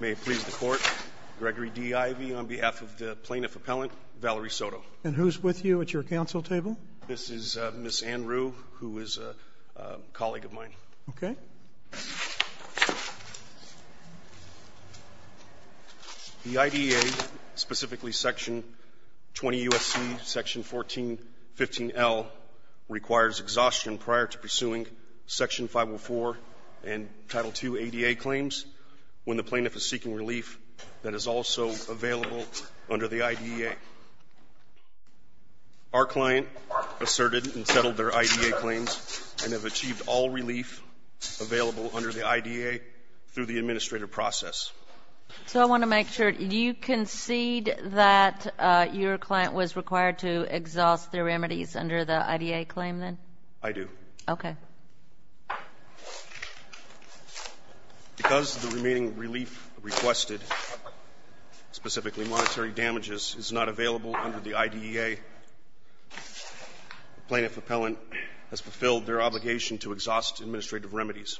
May it please the court, Gregory D. Ivey on behalf of the plaintiff appellant, Valerie Soto. And who's with you at your council table? This is Ms. Ann Rue, who is a colleague of mine. Okay. The IDEA, specifically Section 20 U.S.C. Section 1415L, requires exhaustion prior to pursuing Section 504 and Title II ADA claims when the plaintiff is seeking relief that is also available under the IDEA. Our client asserted and settled their IDEA claims and have achieved all relief available under the IDEA through the administrative process. So I want to make sure. Do you concede that your client was required to exhaust their remedies under the IDEA claim then? I do. Okay. Because the remaining relief requested, specifically monetary damages, is not available under the IDEA, the plaintiff appellant has fulfilled their obligation to exhaust administrative remedies.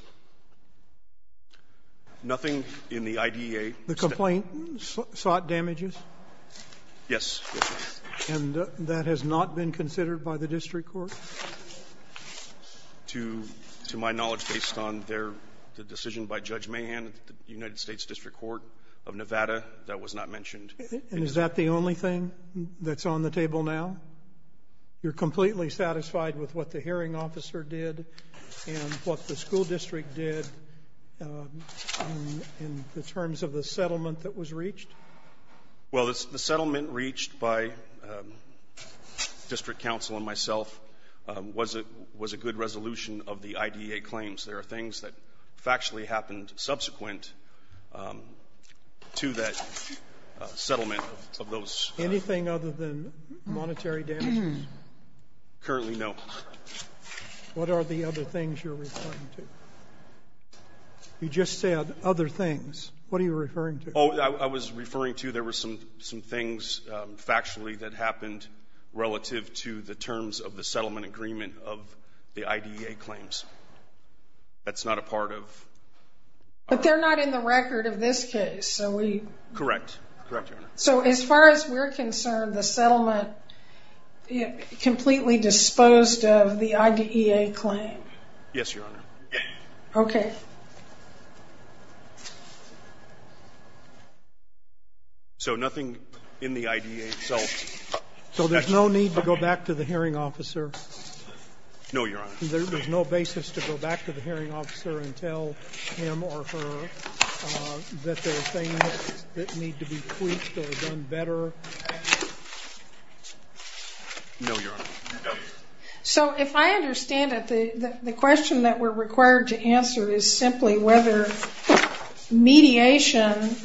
Nothing in the IDEA. The complaint sought damages? Yes. And that has not been considered by the district court? To my knowledge, based on the decision by Judge Mahan at the United States District Court of Nevada, that was not mentioned. And is that the only thing that's on the table now? You're completely satisfied with what the hearing officer did and what the school district did in terms of the settlement that was reached? Well, the settlement reached by district counsel and myself was a good resolution of the IDEA claims. There are things that factually happened subsequent to that settlement of those. Anything other than monetary damages? Currently, no. What are the other things you're referring to? You just said other things. What are you referring to? I was referring to there were some things factually that happened relative to the terms of the settlement agreement of the IDEA claims. That's not a part of... But they're not in the record of this case, so we... Correct. Correct, Your Honor. So as far as we're concerned, the settlement completely disposed of the IDEA claim? Yes, Your Honor. Okay. So nothing in the IDEA itself? So there's no need to go back to the hearing officer? No, Your Honor. There's no basis to go back to the hearing officer and tell him or her that there are things that need to be tweaked or done better? No, Your Honor. So if I understand it, the question that we're required to answer is simply whether mediation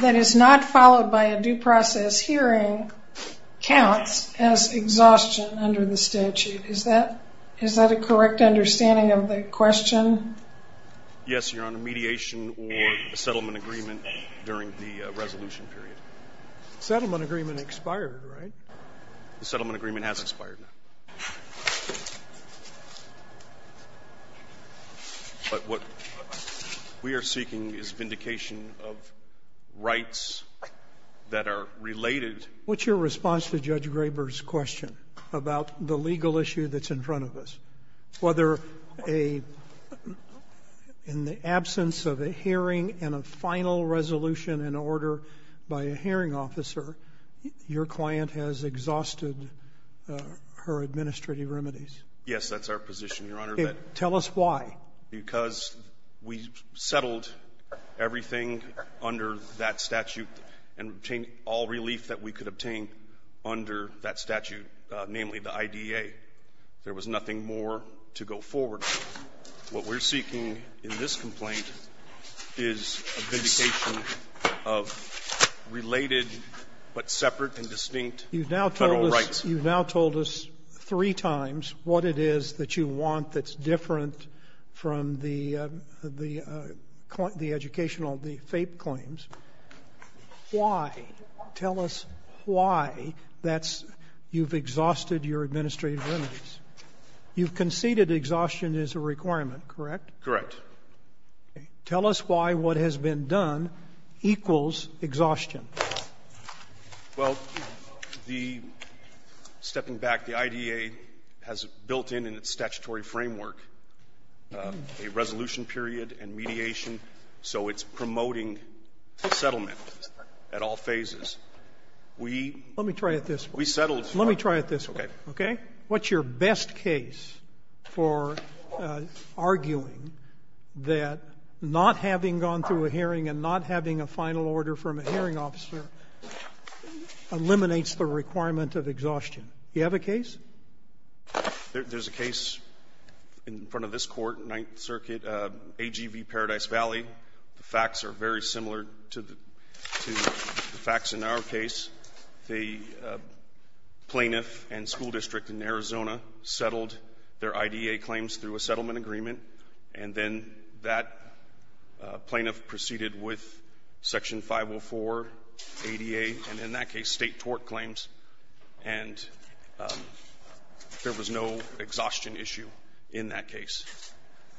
that is not followed by a due process hearing counts as exhaustion under the statute. Is that a correct understanding of the question? Yes, Your Honor. Mediation or a settlement agreement during the resolution period. Settlement agreement expired, right? The settlement agreement has expired, Your Honor. But what we are seeking is vindication of rights that are related... What's your response to Judge Graber's question about the legal issue that's in front of us? Whether in the absence of a hearing and a final resolution in order by a hearing officer, your client has exhausted her administrative remedies. Yes, that's our position, Your Honor. Tell us why. Because we settled everything under that statute and obtained all relief that we could to go forward. What we're seeking in this complaint is a vindication of related but separate and distinct Federal rights. You've now told us three times what it is that you want that's different from the educational, the FAPE claims. Why? Tell us why that's you've exhausted your administrative remedies. You've conceded exhaustion is a requirement, correct? Correct. Tell us why what has been done equals exhaustion. Well, the stepping back, the IDA has built in, in its statutory framework, a resolution period and mediation, so it's promoting settlement at all phases. We... Let me try it this way. We settled... Let me try it this way. Okay. Okay? What's your best case for arguing that not having gone through a hearing and not having a final order from a hearing officer eliminates the requirement of exhaustion? Do you have a case? There's a case in front of this Court, Ninth Circuit, AGV Paradise Valley. The facts are very similar to the facts in our case. The plaintiff and school district in Arizona settled their IDA claims through a settlement agreement, and then that plaintiff proceeded with Section 504 ADA, and in that case State tort claims, and there was no exhaustion issue in that case.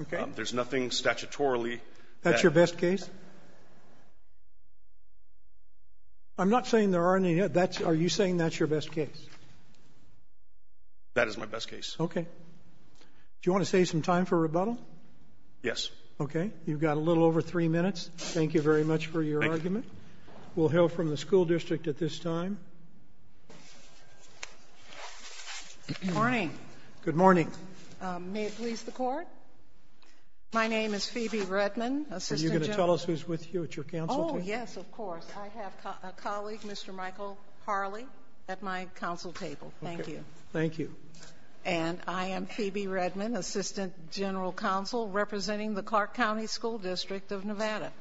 Okay. There's nothing statutorily... That's your best case? I'm not saying there aren't any. Are you saying that's your best case? That is my best case. Do you want to save some time for rebuttal? Yes. Okay. You've got a little over three minutes. Thank you very much for your argument. Thank you. We'll hear from the school district at this time. Good morning. Good morning. May it please the Court? My name is Phoebe Redman, Assistant General Counsel. Are you going to tell us who's with you at your counsel table? Oh, yes, of course. I have a colleague, Mr. Michael Harley, at my counsel table. Thank you. Thank you. And I am Phoebe Redman, Assistant General Counsel, representing the Clark County School District of Nevada.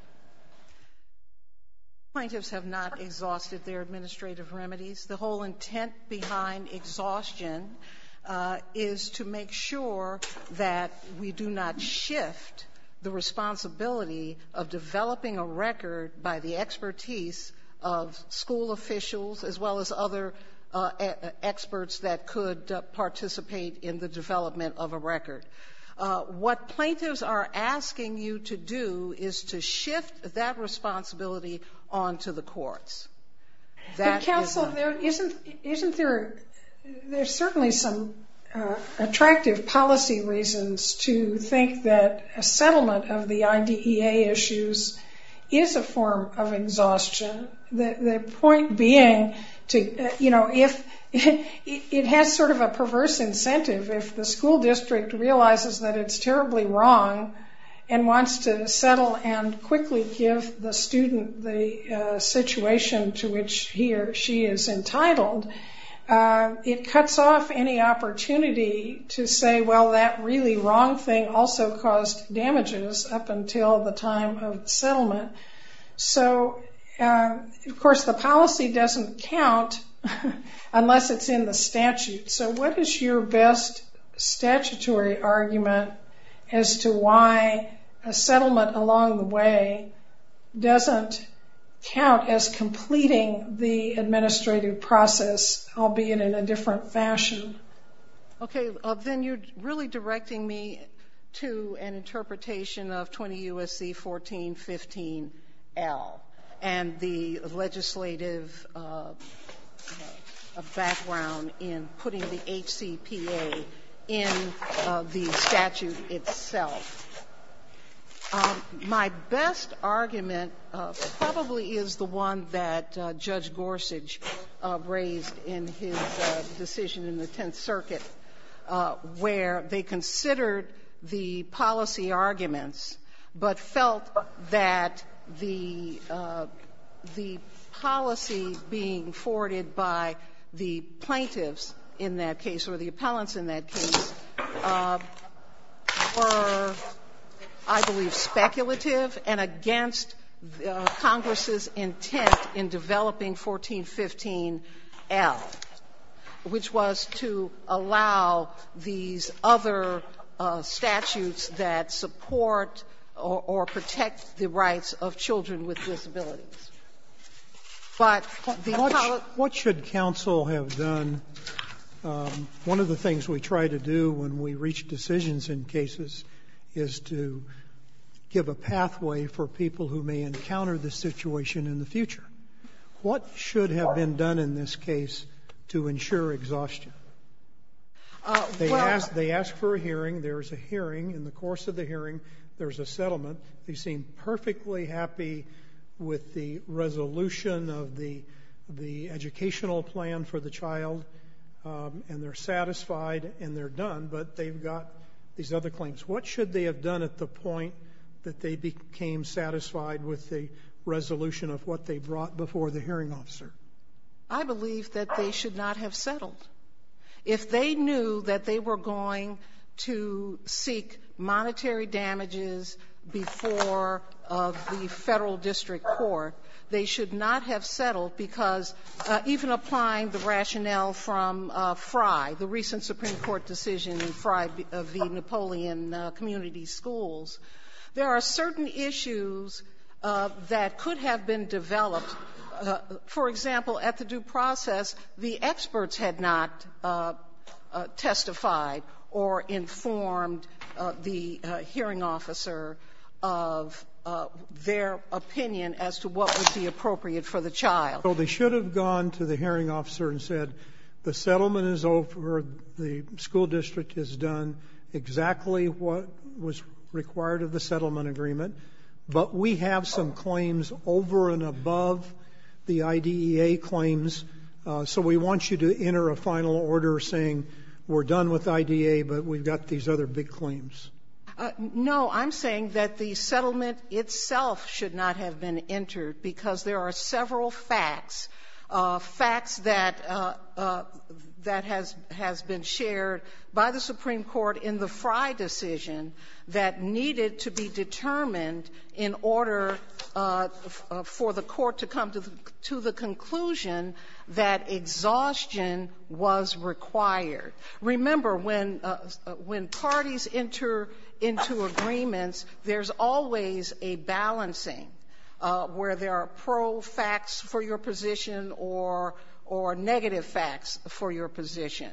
The plaintiffs have not exhausted their administrative remedies. The whole intent behind exhaustion is to make sure that we do not shift the responsibility of developing a record by the expertise of school officials as well as other experts that could participate in the development of a record. What plaintiffs are asking you to do is to shift that responsibility onto the courts. Counsel, there's certainly some attractive policy reasons to think that a settlement of the IDEA issues is a form of exhaustion. The point being, it has sort of a perverse incentive if the school district realizes that it's terribly wrong and wants to settle and quickly give the situation to which he or she is entitled, it cuts off any opportunity to say, well, that really wrong thing also caused damages up until the time of the settlement. So, of course, the policy doesn't count unless it's in the statute. So what is your best statutory argument as to why a settlement along the way doesn't count as completing the administrative process, albeit in a different fashion? Okay. Then you're really directing me to an interpretation of 20 U.S.C. 1415-L and the legislative background in putting the HCPA in the statute itself. My best argument probably is the one that Judge Gorsuch raised in his decision in the Tenth Circuit, where they considered the policy arguments but felt that the policy being forwarded by the plaintiffs in that case or the appellants in that case were, I believe, speculative and against Congress's intent in developing 1415-L, which was to allow these other statutes that support or protect the rights of children with disabilities. But the appellant ---- What should counsel have done? One of the things we try to do when we reach decisions in cases is to give a pathway for people who may encounter this situation in the future. What should have been done in this case to ensure exhaustion? They ask for a hearing. There is a hearing. In the course of the hearing, there is a settlement. They seem perfectly happy with the resolution of the educational plan for the child, and they're satisfied and they're done, but they've got these other claims. What should they have done at the point that they became satisfied with the resolution of what they brought before the hearing officer? I believe that they should not have settled. If they knew that they were going to seek monetary damages before the Federal District Court, they should not have settled because even applying the rationale from Frey, the recent Supreme Court decision in Frey of the Napoleon community schools, there are certain issues that could have been developed. For example, at the due process, the experts had not testified or informed the hearing officer of their opinion as to what would be appropriate for the child. Well, they should have gone to the hearing officer and said the settlement is over, the school district has done exactly what was required of the settlement agreement, but we have some claims over and above the IDEA claims, so we want you to enter a final order saying we're done with IDEA, but we've got these other big claims. No. I'm saying that the settlement itself should not have been entered because there are several facts, facts that has been shared by the Supreme Court in the Frey decision that needed to be determined in order for the court to come to the conclusion that exhaustion was required. Remember, when parties enter into agreements, there's always a balancing where there are pro facts for your position or negative facts for your position.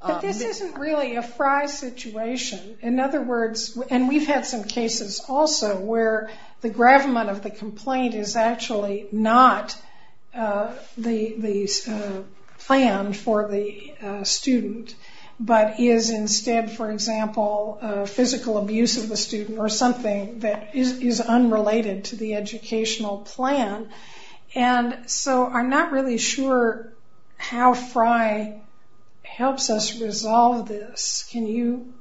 But this isn't really a Frey situation. In other words, and we've had some cases also where the gravamen of the complaint is actually not the plan for the student, but is instead, for example, physical abuse of the student or something that is unrelated to the educational plan. And so I'm not really sure how Frey helps us resolve this. Can you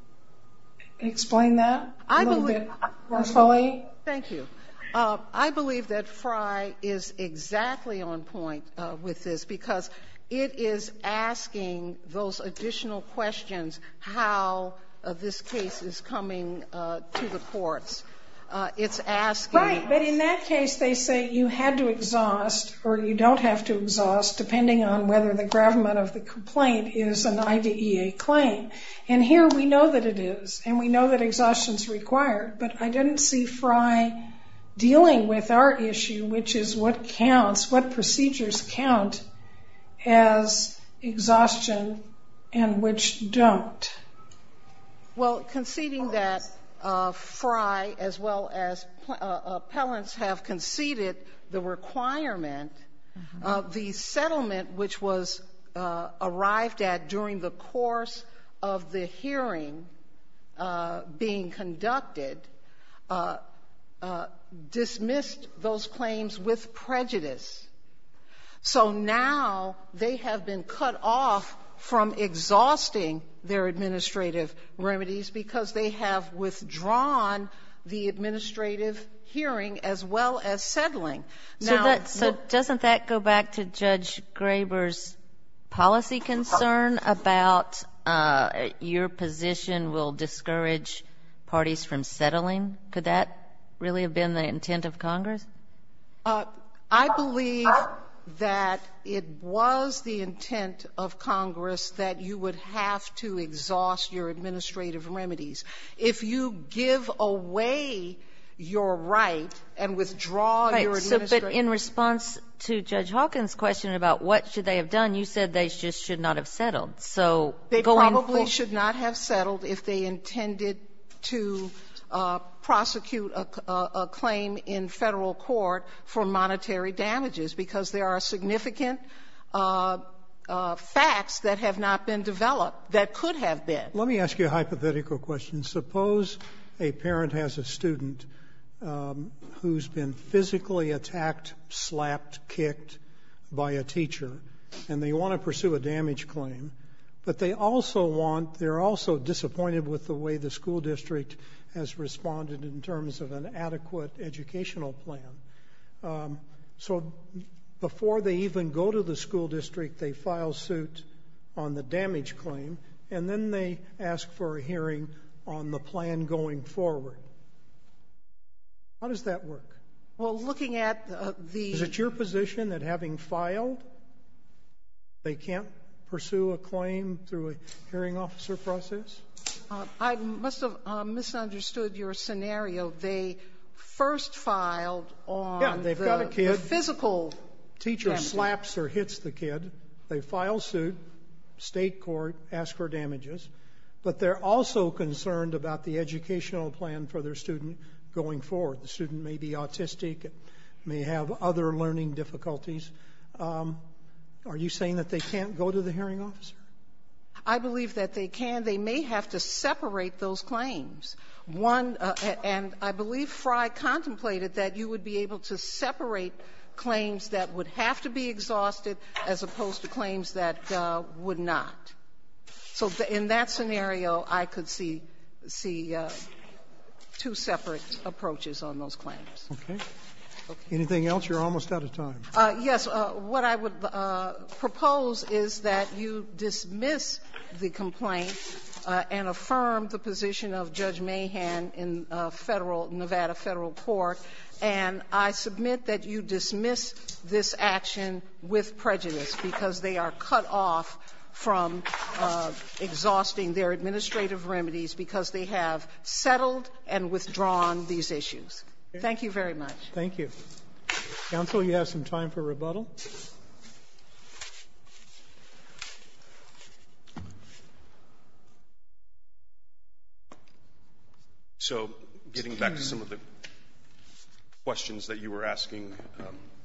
explain that a little bit more fully? Thank you. I believe that Frey is exactly on point with this because it is asking those additional questions how this case is coming to the courts. Right. But in that case, they say you had to exhaust or you don't have to exhaust depending on whether the gravamen of the complaint is an IDEA claim. And here we know that it is, and we know that exhaustion is required, but I didn't see Frey dealing with our issue, which is what counts, what procedures count as exhaustion and which don't. Well, conceding that Frey as well as appellants have conceded the requirement, the settlement which was arrived at during the course of the hearing being conducted dismissed those claims with prejudice. So now they have been cut off from exhausting their administrative remedies because they have withdrawn the administrative hearing as well as settling. So doesn't that go back to Judge Graber's policy concern about your position will discourage parties from settling? I believe that it was the intent of Congress that you would have to exhaust your administrative remedies. If you give away your right and withdraw your administrative ---- Right. So but in response to Judge Hawkins' question about what should they have done, you said they just should not have settled. So going ---- They probably should not have settled if they intended to prosecute a claim in Federal court for monetary damages, because there are significant facts that have not been developed that could have been. Let me ask you a hypothetical question. Suppose a parent has a student who's been physically attacked, slapped, kicked by a teacher, and they want to pursue a damage claim, but they also want to be disappointed with the way the school district has responded in terms of an adequate educational plan. So before they even go to the school district, they file suit on the damage claim, and then they ask for a hearing on the plan going forward. How does that work? Well, looking at the ---- Is it your position that having filed, they can't pursue a claim through a hearing officer process? I must have misunderstood your scenario. They first filed on the physical damage. Yeah. They've got a kid. Teacher slaps or hits the kid. They file suit, state court, ask for damages. But they're also concerned about the educational plan for their student going forward. The student may be autistic, may have other learning difficulties. Are you saying that they can't go to the hearing officer? I believe that they can. They may have to separate those claims. One, and I believe Fry contemplated that you would be able to separate claims that would have to be exhausted as opposed to claims that would not. So in that scenario, I could see two separate approaches on those claims. Okay. Anything else? You're almost out of time. Yes. What I would propose is that you dismiss the complaint and affirm the position of Judge Mahan in Federal ---- Nevada Federal Court, and I submit that you dismiss this action with prejudice because they are cut off from exhausting their administrative remedies because they have settled and withdrawn these issues. Thank you very much. Thank you. Counsel, you have some time for rebuttal. So getting back to some of the questions that you were asking,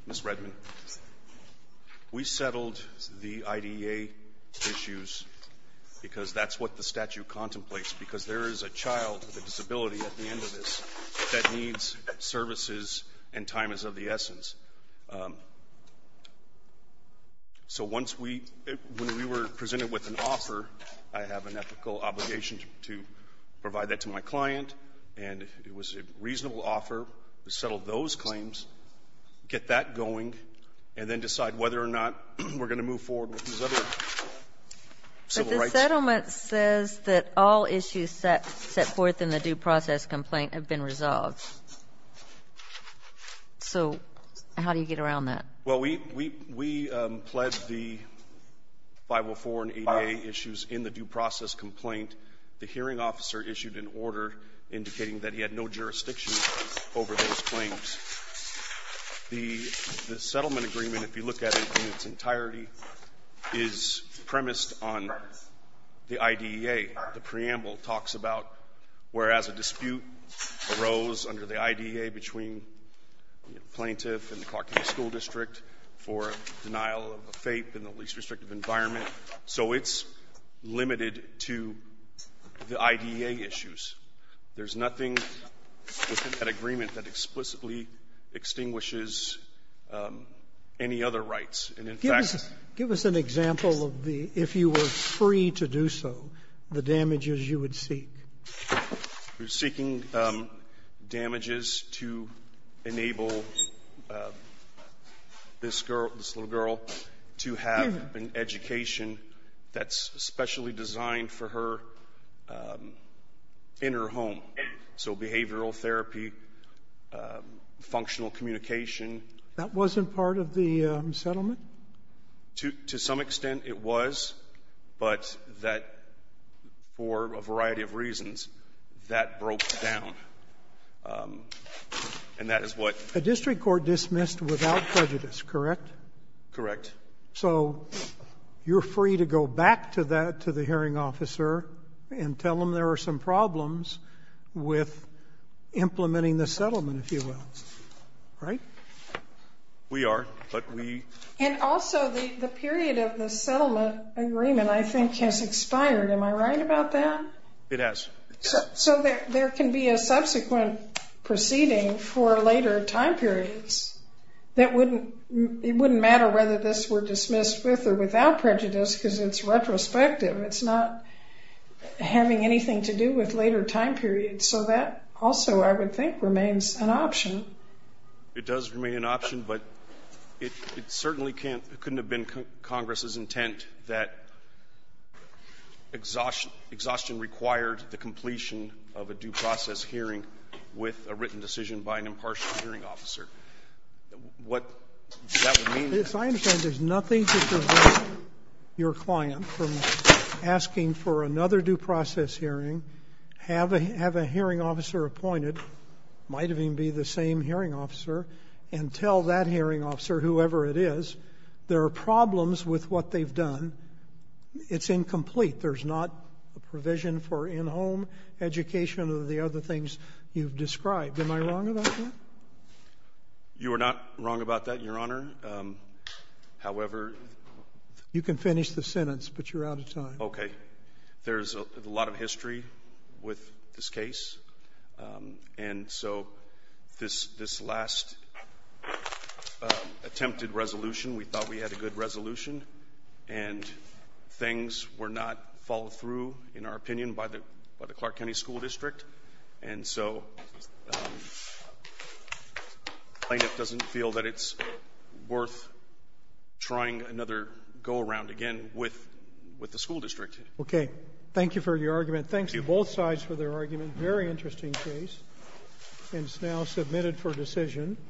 Ms. Redman, we settled the IDEA issues because that's what the statute contemplates because there is a child with a disability at the end of this that needs services and time is of the essence. So once we ---- when we were presented with an offer, I have an ethical obligation to provide that to my client, and it was a reasonable offer to settle those claims, get that going, and then decide whether or not we're going to move forward with these other civil rights. But the settlement says that all issues set forth in the due process complaint have been resolved. So how do you get around that? Well, we pledged the 504 and ADA issues in the due process complaint. The hearing officer issued an order indicating that he had no jurisdiction over those claims. The settlement agreement, if you look at it in its entirety, is premised on the IDEA. The preamble talks about whereas a dispute arose under the IDEA between the plaintiff and the Clark County School District for denial of a FAPE in the least restrictive environment. So it's limited to the IDEA issues. There's nothing within that agreement that explicitly extinguishes any other rights. Give us an example of the, if you were free to do so, the damages you would seek. We're seeking damages to enable this girl, this little girl, to have an education that's specially designed for her in her home. So behavioral therapy, functional communication. That wasn't part of the settlement? To some extent it was, but that, for a variety of reasons, that broke down. And that is what... The district court dismissed without prejudice, correct? Correct. So you're free to go back to that, to the hearing officer, and tell him there are some problems with implementing the settlement, if you will, right? We are, but we... And also the period of the settlement agreement, I think, has expired. Am I right about that? It has. So there can be a subsequent proceeding for later time periods that wouldn't... It wouldn't matter whether this were dismissed with or without prejudice because it's retrospective. It's not having anything to do with later time periods. So that also, I would think, remains an option. It does remain an option, but it certainly can't, couldn't have been Congress's intent that exhaustion required the completion of a due process hearing with a written decision by an impartial hearing officer. What that would mean... I understand there's nothing to prevent your client from asking for another due process hearing, have a hearing officer appointed, might even be the same hearing officer, and tell that hearing officer, whoever it is, there are problems with what they've done. It's incomplete. There's not a provision for in-home education or the other things you've described. Am I wrong about that? You are not wrong about that, Your Honor. However... You can finish the sentence, but you're out of time. Okay. There's a lot of history with this case. And so this last attempted resolution, we thought we had a good resolution, and things were not followed through, in our opinion, by the Clark County School District. And so plaintiff doesn't feel that it's worth trying another go-around again with the school district. Okay. Thank you for your argument. Thanks to both sides for their argument. Very interesting case. And it's now submitted for decision.